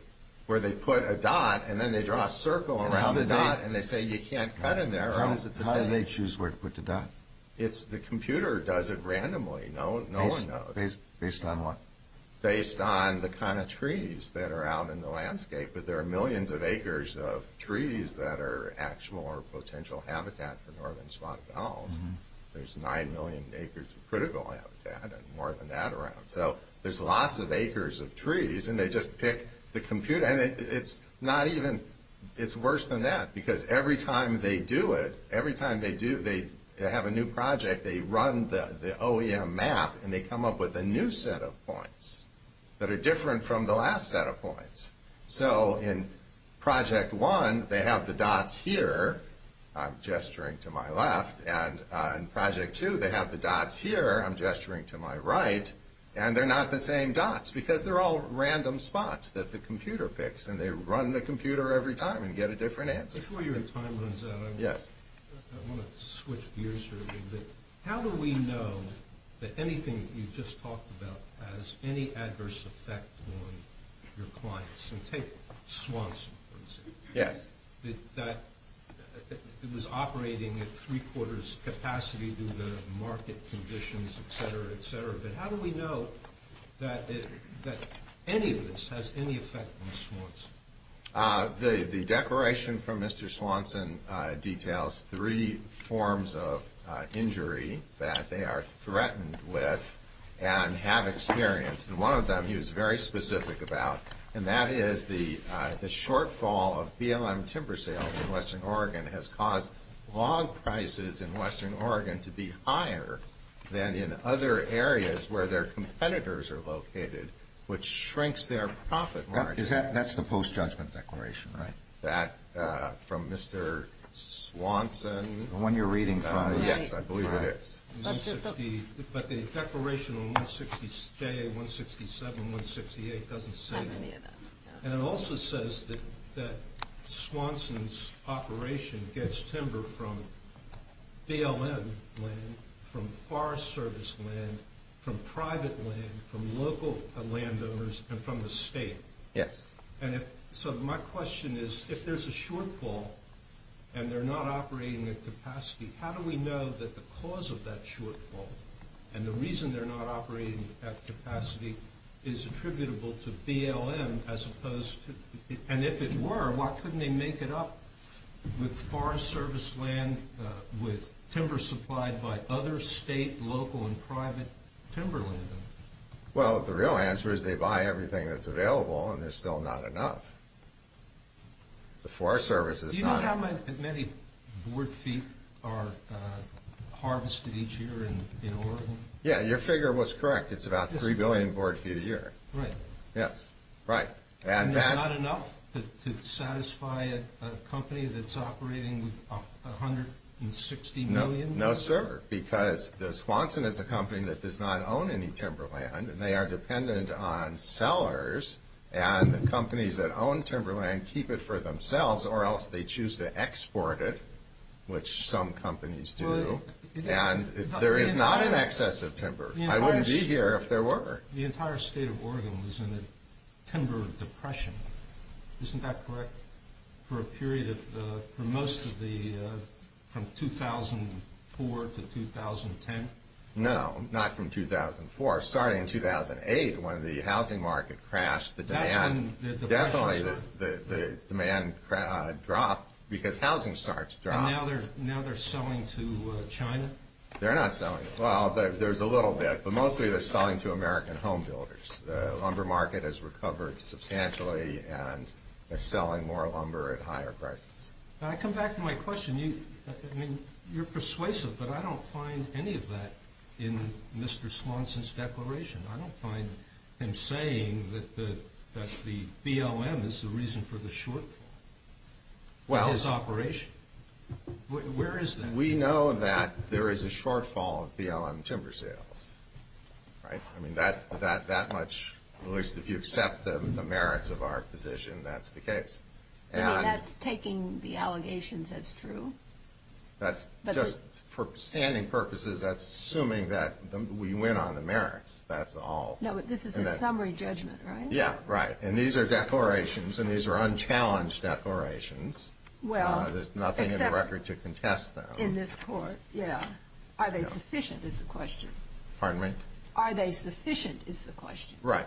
where they put a dot and then they draw a circle around the dot and they say you can't cut in there. How did they choose where to put the dot? The computer does it randomly. No one knows. Based on what? Based on the kind of trees that are out in the landscape. But there are millions of acres of trees that are actual or potential habitat for northern spotted owls. There's 9 million acres of critical habitat and more than that around. So there's lots of acres of trees and they just pick the computer. And it's not even, it's worse than that. Because every time they do it, every time they have a new project, they run the OEM map and they come up with a new set of points that are different from the last set of points. So in project 1, they have the dots here. I'm gesturing to my left. And in project 2, they have the dots here. I'm gesturing to my right. And they're not the same dots because they're all random spots that the computer picks. And they run the computer every time and get a different answer. Before your time runs out, I want to switch gears here a little bit. How do we know that anything that you just talked about has any adverse effect on your clients? And take Swanson, for example. It was operating at three-quarters capacity due to market conditions, et cetera, et cetera. But how do we know that any of this has any effect on Swanson? The declaration from Mr. Swanson details three forms of injury that they are threatened with and have experienced. One of them he was very specific about, and that is the shortfall of BLM timber sales in western Oregon has caused log prices in western Oregon to be higher than in other areas where their competitors are located, which shrinks their profit margin. That's the post-judgment declaration, right? That from Mr. Swanson? The one you're reading from? Yes, I believe it is. But the declaration on JA-167 and 168 doesn't say that. And it also says that Swanson's operation gets timber from BLM land, from Forest Service land, from private land, from local landowners, and from the state. Yes. So my question is, if there's a shortfall and they're not operating at capacity, how do we know that the cause of that shortfall and the reason they're not operating at capacity is attributable to BLM as opposed to – and if it were, why couldn't they make it up with Forest Service land, with timber supplied by other state, local, and private timber landowners? Well, the real answer is they buy everything that's available and there's still not enough. The Forest Service is not – Do you know how many board feet are harvested each year in Oregon? Yeah, your figure was correct. It's about 3 billion board feet a year. Right. Yes, right. And that's not enough to satisfy a company that's operating with 160 million? No, sir, because Swanson is a company that does not own any timber land and they are dependent on sellers. And the companies that own timber land keep it for themselves or else they choose to export it, which some companies do. And there is not an excess of timber. I wouldn't be here if there were. The entire state of Oregon was in a timber depression. Isn't that correct? For a period of – for most of the – from 2004 to 2010? No, not from 2004. Starting in 2008, when the housing market crashed, the demand – That's when the depression started. Definitely, the demand dropped because housing starts dropping. And now they're selling to China? They're not selling – well, there's a little bit, but mostly they're selling to American home builders. The lumber market has recovered substantially and they're selling more lumber at higher prices. When I come back to my question, you – I mean, you're persuasive, but I don't find any of that in Mr. Swanson's declaration. I don't find him saying that the BLM is the reason for the shortfall in his operation. Well – Where is that? We know that there is a shortfall of BLM timber sales, right? I mean, that's – that much – at least if you accept the merits of our position, that's the case. I mean, that's taking the allegations as true? That's – just for standing purposes, that's assuming that we win on the merits. That's all. No, but this is a summary judgment, right? Yeah, right. And these are declarations and these are unchallenged declarations. Well, except – There's nothing in the record to contest them. In this court, yeah. Are they sufficient is the question. Pardon me? Are they sufficient is the question. Right.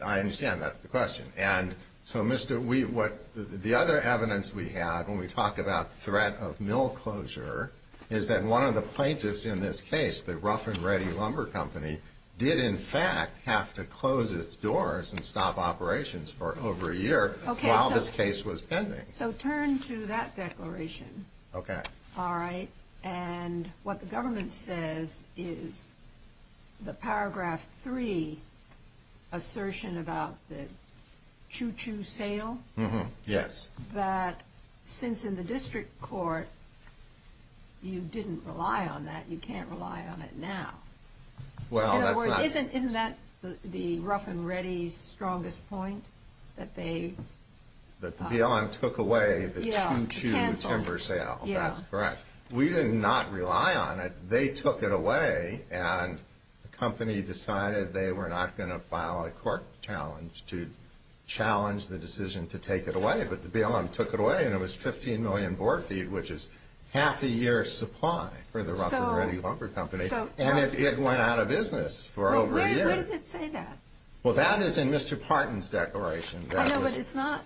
I understand that's the question. And so, Mr. – we – what – the other evidence we have when we talk about threat of mill closure is that one of the plaintiffs in this case, the Rough and Ready Lumber Company, did in fact have to close its doors and stop operations for over a year while this case was pending. So turn to that declaration. Okay. All right. And what the government says is the paragraph three assertion about the choo-choo sale. Yes. That since in the district court you didn't rely on that, you can't rely on it now. Well, that's not – In other words, isn't that the Rough and Ready's strongest point, that they – That the BLM took away the choo-choo timber sale. Yeah. That's correct. We did not rely on it. They took it away, and the company decided they were not going to file a court challenge to challenge the decision to take it away. But the BLM took it away, and it was 15 million board feet, which is half a year's supply for the Rough and Ready Lumber Company. So – And it went out of business for over a year. Wait. Where does it say that? Well, that is in Mr. Parton's declaration. I know, but it's not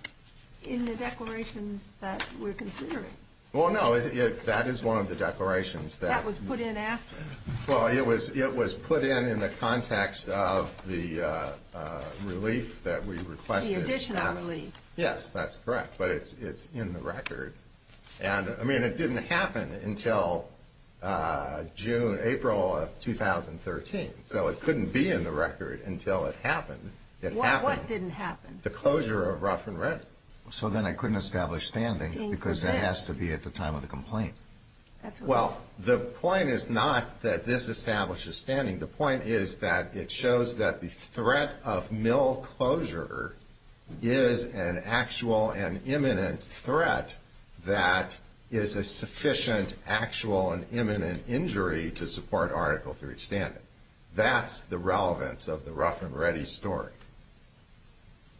in the declarations that we're considering. Well, no. That is one of the declarations that – That was put in after. Well, it was put in in the context of the relief that we requested. The additional relief. Yes. That's correct. But it's in the record. And, I mean, it didn't happen until June – April of 2013. So it couldn't be in the record until it happened. What didn't happen? The closure of Rough and Ready. So then I couldn't establish standing because it has to be at the time of the complaint. Well, the point is not that this establishes standing. The point is that it shows that the threat of mill closure is an actual and imminent threat that is a sufficient actual and imminent injury to support Article III standing. That's the relevance of the Rough and Ready story.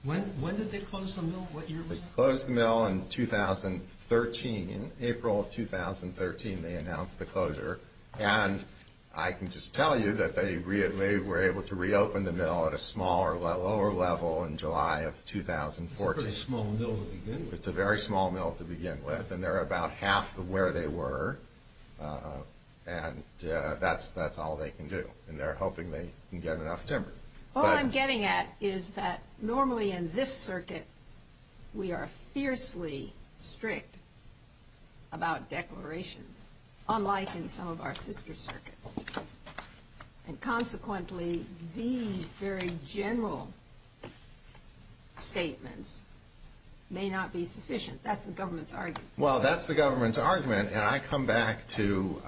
When did they close the mill? What year was that? They closed the mill in 2013. In April of 2013, they announced the closure. And I can just tell you that they were able to reopen the mill at a smaller, lower level in July of 2014. It's a pretty small mill to begin with. It's a very small mill to begin with. And they're about half of where they were. And that's all they can do. And they're hoping they can get enough timber. All I'm getting at is that normally in this circuit, we are fiercely strict about declarations, unlike in some of our sister circuits. And consequently, these very general statements may not be sufficient. That's the government's argument. Well, that's the government's argument. And I come back to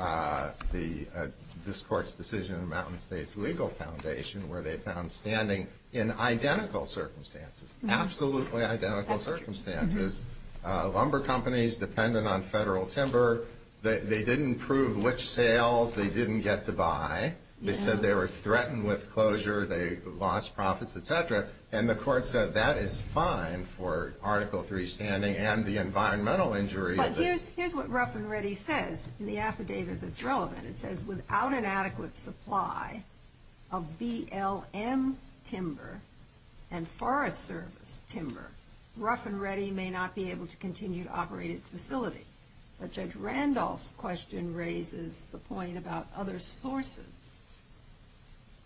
this court's decision in the Mountain States Legal Foundation where they found standing in identical circumstances, absolutely identical circumstances. Lumber companies dependent on federal timber, they didn't prove which sales they didn't get to buy. They said they were threatened with closure. They lost profits, et cetera. And the court said that is fine for Article III standing and the environmental injury. But here's what Rough and Ready says in the affidavit that's relevant. It says, without an adequate supply of BLM timber and Forest Service timber, Rough and Ready may not be able to continue to operate its facility. But Judge Randolph's question raises the point about other sources.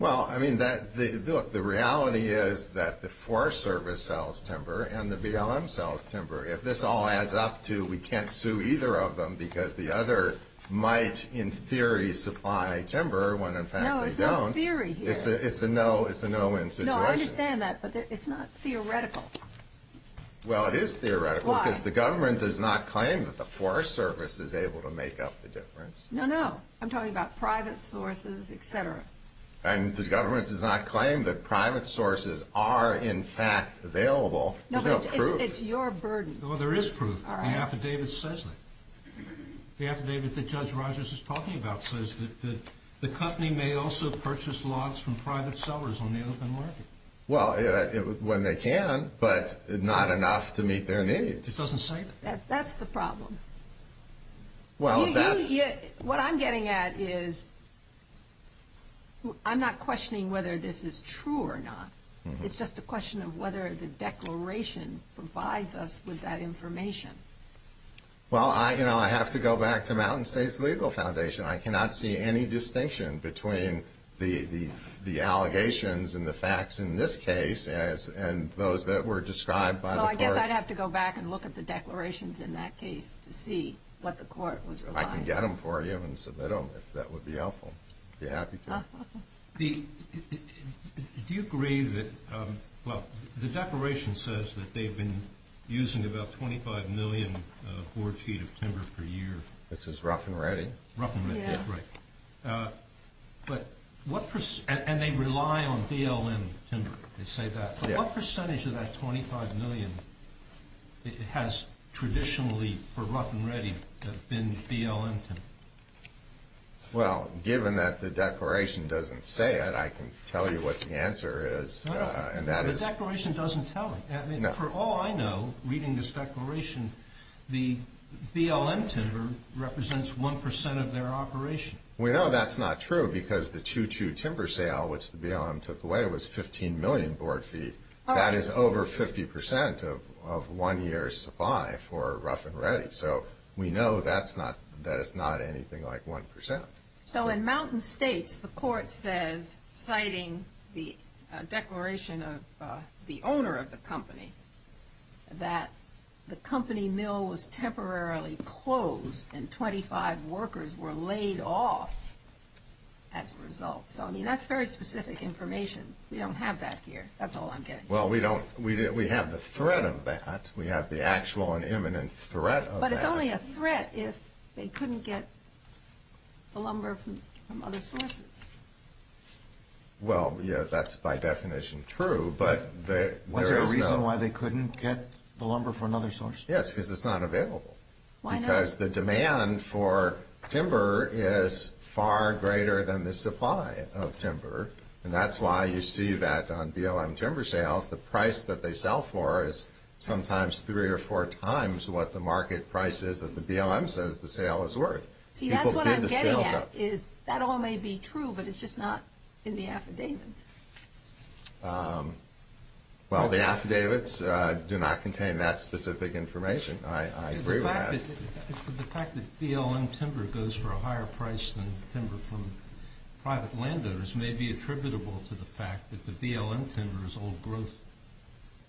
Well, I mean, look, the reality is that the Forest Service sells timber and the BLM sells timber. If this all adds up to we can't sue either of them because the other might in theory supply timber when in fact they don't. No, it's not theory here. It's a no-win situation. No, I understand that, but it's not theoretical. Well, it is theoretical. Why? Because the government does not claim that the Forest Service is able to make up the difference. No, no. I'm talking about private sources, et cetera. And the government does not claim that private sources are in fact available. There's no proof. No, but it's your burden. Well, there is proof. All right. The affidavit says that. The affidavit that Judge Rogers is talking about says that the company may also purchase lots from private sellers on the open market. Well, when they can, but not enough to meet their needs. It doesn't say that. That's the problem. What I'm getting at is I'm not questioning whether this is true or not. It's just a question of whether the declaration provides us with that information. Well, I have to go back to Mountain States Legal Foundation. I cannot see any distinction between the allegations and the facts in this case and those that were described by the court. I guess I'd have to go back and look at the declarations in that case to see what the court was relying on. I can get them for you and submit them if that would be helpful. If you're happy to. Do you agree that the declaration says that they've been using about 25 million horse feet of timber per year? It says rough and ready. Rough and ready, right. And they rely on DLN timber. They say that. What percentage of that 25 million has traditionally, for rough and ready, been DLN timber? Well, given that the declaration doesn't say it, I can tell you what the answer is. The declaration doesn't tell me. For all I know, reading this declaration, the DLN timber represents 1% of their operation. We know that's not true because the Choo Choo timber sale, which the BLM took away, was 15 million board feet. That is over 50% of one year's supply for rough and ready. So we know that it's not anything like 1%. So in Mountain States, the court says, citing the declaration of the owner of the company, that the company mill was temporarily closed and 25 workers were laid off as a result. So, I mean, that's very specific information. We don't have that here. That's all I'm getting at. Well, we don't. We have the threat of that. We have the actual and imminent threat of that. It's really a threat if they couldn't get the lumber from other sources. Well, yeah, that's by definition true, but there is no— Was there a reason why they couldn't get the lumber from another source? Yes, because it's not available. Why not? Because the demand for timber is far greater than the supply of timber, and that's why you see that on BLM timber sales, the price that they sell for is sometimes three or four times what the market price is that the BLM says the sale is worth. See, that's what I'm getting at is that all may be true, but it's just not in the affidavit. Well, the affidavits do not contain that specific information. I agree with that. The fact that BLM timber goes for a higher price than timber from private landowners may be attributable to the fact that the BLM timber is old growth,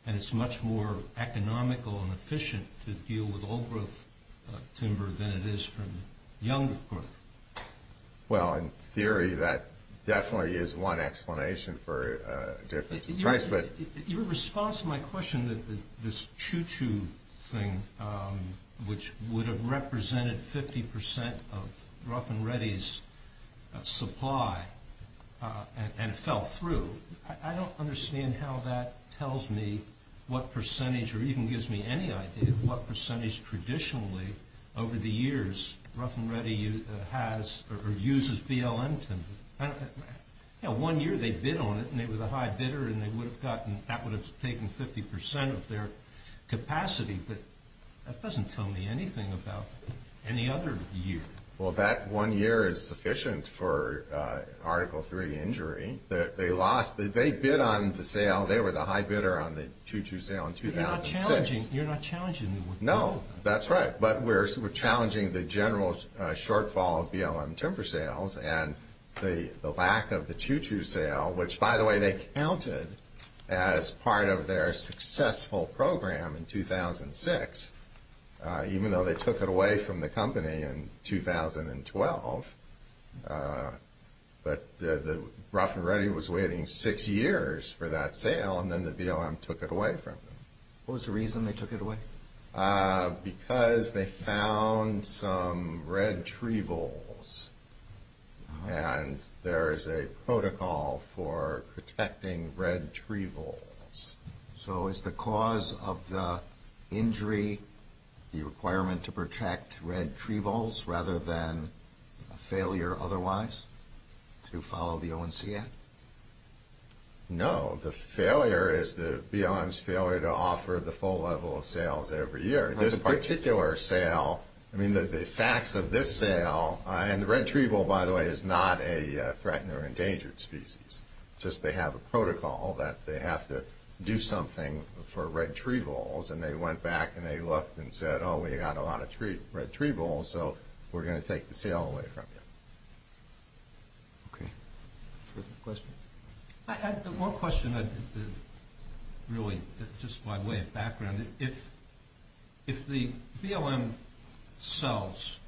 and it's much more economical and efficient to deal with old growth timber than it is from younger growth. Well, in theory, that definitely is one explanation for a difference in price. Your response to my question, this choo-choo thing, which would have represented 50% of Rough and Ready's supply and it fell through, I don't understand how that tells me what percentage or even gives me any idea of what percentage traditionally over the years Rough and Ready has or uses BLM timber. One year they bid on it and it was a high bidder and that would have taken 50% of their capacity, but that doesn't tell me anything about any other year. Well, that one year is sufficient for Article III injury. They bid on the sale. They were the high bidder on the choo-choo sale in 2006. You're not challenging them. No, that's right, but we're challenging the general shortfall of BLM timber sales and the lack of the choo-choo sale, which, by the way, they counted as part of their successful program in 2006, even though they took it away from the company in 2012. But Rough and Ready was waiting six years for that sale and then the BLM took it away from them. What was the reason they took it away? Because they found some red tree voles and there is a protocol for protecting red tree voles. So is the cause of the injury the requirement to protect red tree voles rather than a failure otherwise to follow the ONC Act? No, the failure is the BLM's failure to offer the full level of sales every year. This particular sale, I mean, the facts of this sale, and the red tree vole, by the way, is not a threatened or endangered species. It's just they have a protocol that they have to do something for red tree voles, and they went back and they looked and said, oh, we've got a lot of red tree voles, so we're going to take the sale away from you. Okay. Further questions? I had one question, really, just by way of background. If the BLM sells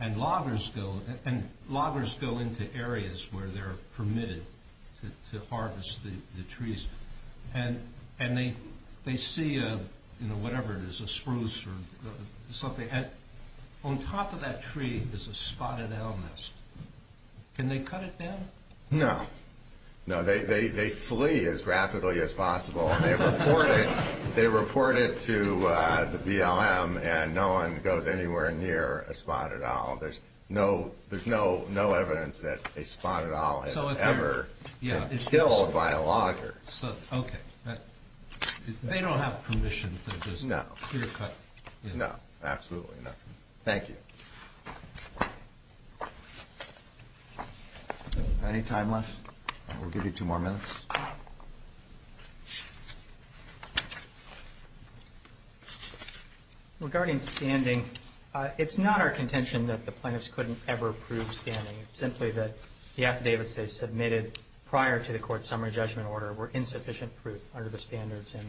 and loggers go into areas where they're permitted to harvest the trees, and they see whatever it is, a spruce or something, and on top of that tree is a spotted owl nest, can they cut it down? No. No, they flee as rapidly as possible. They report it to the BLM and no one goes anywhere near a spotted owl. There's no evidence that a spotted owl has ever been killed by a logger. Okay. They don't have permission to just clear cut. No, absolutely not. Thank you. Any time left? We'll give you two more minutes. Regarding standing, it's not our contention that the plaintiffs couldn't ever prove standing. It's simply that the affidavits they submitted prior to the court's summary judgment order were insufficient proof under the standards in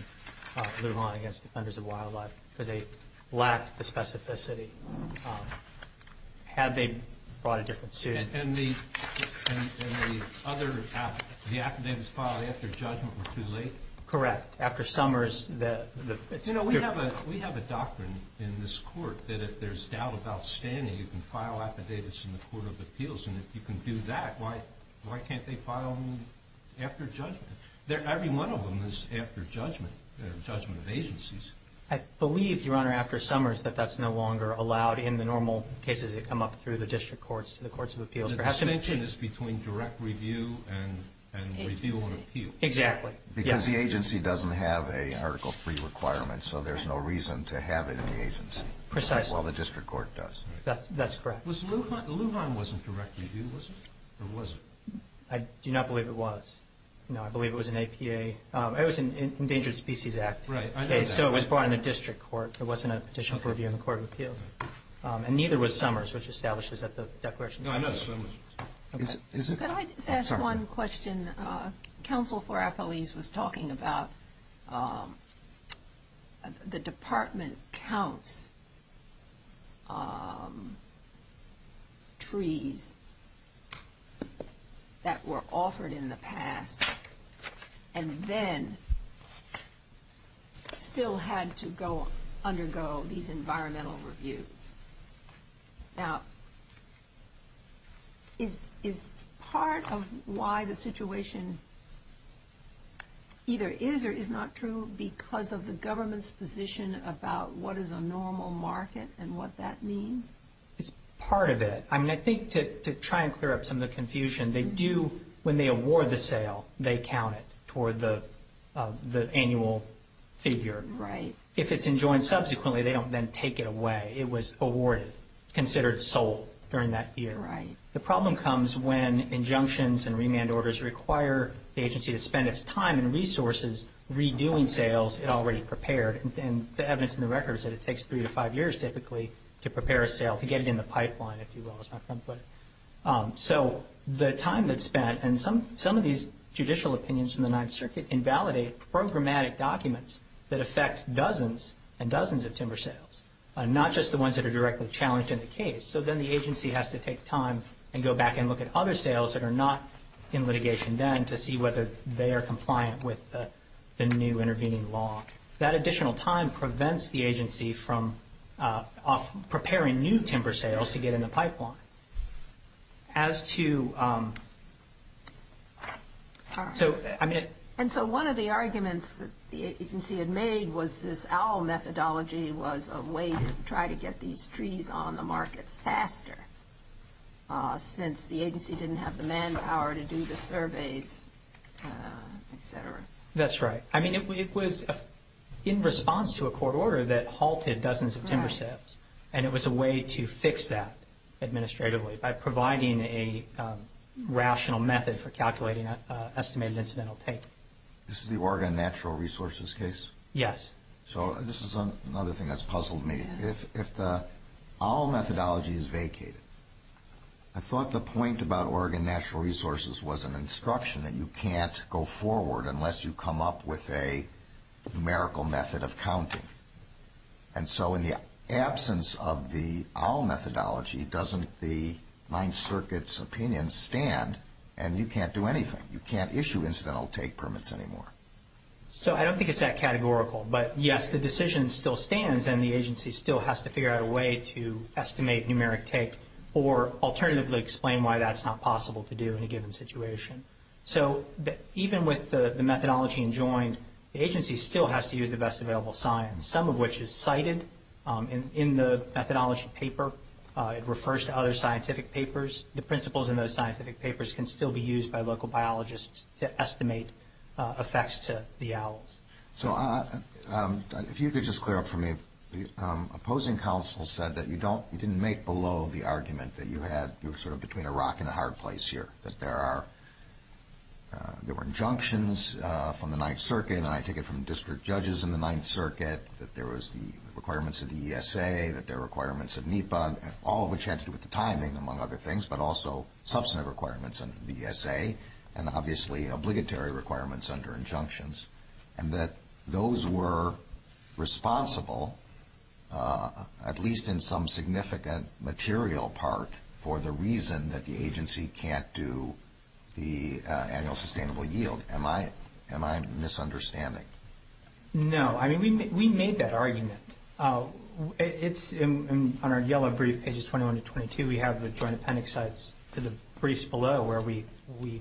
Lujan against Defenders of Wildlife because they lacked the specificity. Had they brought a different suit? And the other affidavits filed after judgment were too late? Correct. After Summers, it's different. We have a doctrine in this court that if there's doubt about standing, you can file affidavits in the Court of Appeals, and if you can do that, why can't they file them after judgment? Every one of them is after judgment, judgment of agencies. I believe, Your Honor, after Summers, that that's no longer allowed in the normal cases that come up through the district courts, to the Courts of Appeals. The distinction is between direct review and review on appeal. Exactly. Because the agency doesn't have a Article III requirement, so there's no reason to have it in the agency. Precisely. While the district court does. That's correct. Lujan wasn't direct review, was it? Or was it? I do not believe it was. No, I believe it was an APA. It was an Endangered Species Act. Right. I know that. So it was brought in a district court. There wasn't a petition for review in the Court of Appeals. And neither was Summers, which establishes that the declaration is true. No, I know Summers. Could I just ask one question? I'm sorry. You were talking about the Department counts trees that were offered in the past and then still had to undergo these environmental reviews. Now, is part of why the situation either is or is not true because of the government's position about what is a normal market and what that means? It's part of it. I mean, I think to try and clear up some of the confusion, they do, when they award the sale, they count it toward the annual figure. Right. If it's enjoined subsequently, they don't then take it away. It was awarded, considered sold during that year. Right. The problem comes when injunctions and remand orders require the agency to spend its time and resources redoing sales it already prepared. And the evidence in the record is that it takes three to five years, typically, to prepare a sale, to get it in the pipeline, if you will, as my friend put it. So the time that's spent, and some of these judicial opinions from the Ninth Circuit invalidate programmatic documents that affect dozens and dozens of timber sales, not just the ones that are directly challenged in the case. So then the agency has to take time and go back and look at other sales that are not in litigation then to see whether they are compliant with the new intervening law. That additional time prevents the agency from preparing new timber sales to get in the pipeline. And so one of the arguments that the agency had made was this owl methodology was a way to try to get these trees on the market faster, since the agency didn't have the manpower to do the surveys, et cetera. That's right. I mean, it was in response to a court order that halted dozens of timber sales, and it was a way to fix that administratively by providing a rational method for calculating estimated incidental take. This is the Oregon Natural Resources case? Yes. So this is another thing that's puzzled me. If the owl methodology is vacated, I thought the point about Oregon Natural Resources was an instruction that you can't go forward unless you come up with a numerical method of counting. And so in the absence of the owl methodology, doesn't the Ninth Circuit's opinion stand and you can't do anything? You can't issue incidental take permits anymore. So I don't think it's that categorical, but, yes, the decision still stands, and the agency still has to figure out a way to estimate numeric take or alternatively explain why that's not possible to do in a given situation. So even with the methodology enjoined, the agency still has to use the best available science, some of which is cited in the methodology paper. It refers to other scientific papers. The principles in those scientific papers can still be used by local biologists to estimate effects to the owls. So if you could just clear up for me, the opposing counsel said that you didn't make below the argument that you had sort of between a rock and a hard place here, that there were injunctions from the Ninth Circuit, and I take it from district judges in the Ninth Circuit, that there was the requirements of the ESA, that there were requirements of NEPA, all of which had to do with the timing, among other things, but also substantive requirements under the ESA and obviously obligatory requirements under injunctions, and that those were responsible, at least in some significant material part, for the reason that the agency can't do the annual sustainable yield. Am I misunderstanding? No. I mean, we made that argument. It's on our yellow brief, pages 21 to 22. We have the joint appendix sites to the briefs below where we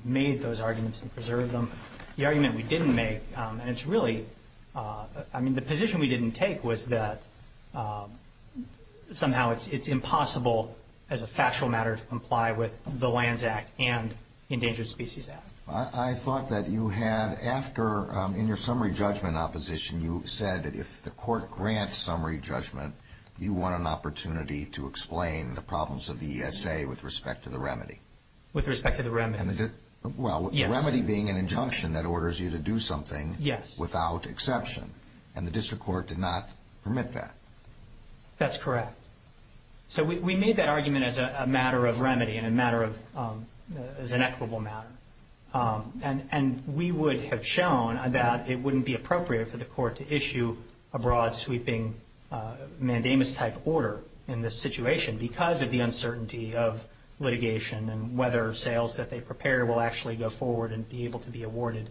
made those arguments and preserved them. The argument we didn't make, and it's really, I mean, the position we didn't take was that somehow it's impossible, as a factual matter, to comply with the Lands Act and Endangered Species Act. I thought that you had, after, in your summary judgment opposition, you said that if the court grants summary judgment, you want an opportunity to explain the problems of the ESA with respect to the remedy. With respect to the remedy. Well, the remedy being an injunction that orders you to do something without exception, and the district court did not permit that. That's correct. So we made that argument as a matter of remedy and a matter of, as an equitable matter. And we would have shown that it wouldn't be appropriate for the court to issue a broad, sweeping, mandamus-type order in this situation because of the uncertainty of litigation and whether sales that they prepare will actually go forward and be able to be awarded.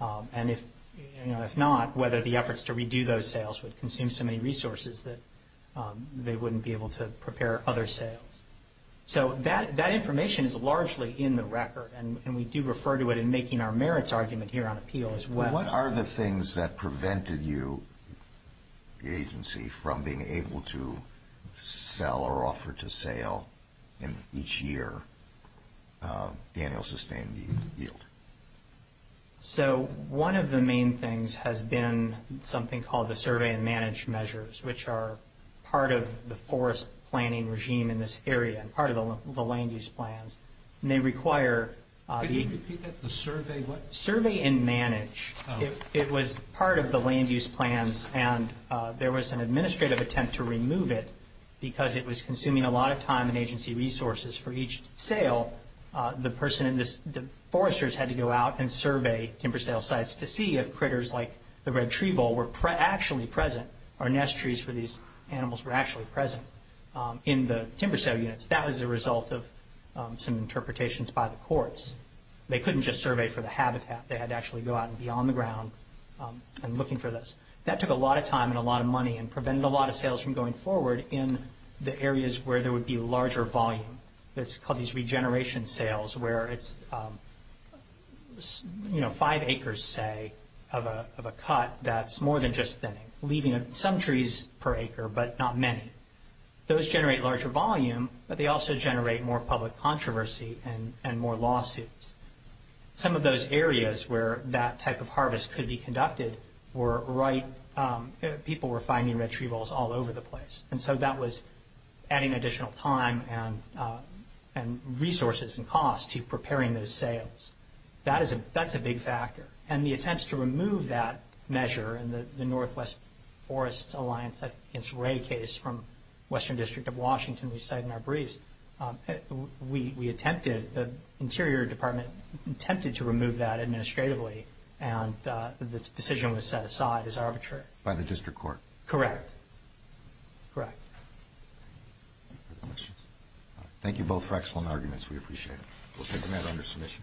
And if not, whether the efforts to redo those sales would consume so many resources that they wouldn't be able to prepare other sales. So that information is largely in the record, and we do refer to it in making our merits argument here on appeal as well. from being able to sell or offer to sale, and each year Daniel sustained the yield. So one of the main things has been something called the survey and manage measures, which are part of the forest planning regime in this area and part of the land use plans. And they require the – Could you repeat that? The survey what? Survey and manage. It was part of the land use plans, and there was an administrative attempt to remove it because it was consuming a lot of time and agency resources for each sale. The person in this – the foresters had to go out and survey timber sale sites to see if critters like the red tree vole were actually present or nest trees for these animals were actually present in the timber sale units. That was the result of some interpretations by the courts. They couldn't just survey for the habitat. They had to actually go out and be on the ground and looking for this. That took a lot of time and a lot of money and prevented a lot of sales from going forward in the areas where there would be larger volume. It's called these regeneration sales where it's five acres, say, of a cut that's more than just thinning, leaving some trees per acre but not many. Those generate larger volume, but they also generate more public controversy and more lawsuits. Some of those areas where that type of harvest could be conducted were right – people were finding red tree voles all over the place, and so that was adding additional time and resources and costs to preparing those sales. That's a big factor, and the attempts to remove that measure in the Northwest Forest Alliance against Ray case from Western District of Washington we cite in our briefs, we attempted – the Interior Department attempted to remove that administratively, and the decision was set aside as arbitrary. By the district court? Correct. Correct. Thank you both for excellent arguments. We appreciate it. We'll take the matter under submission.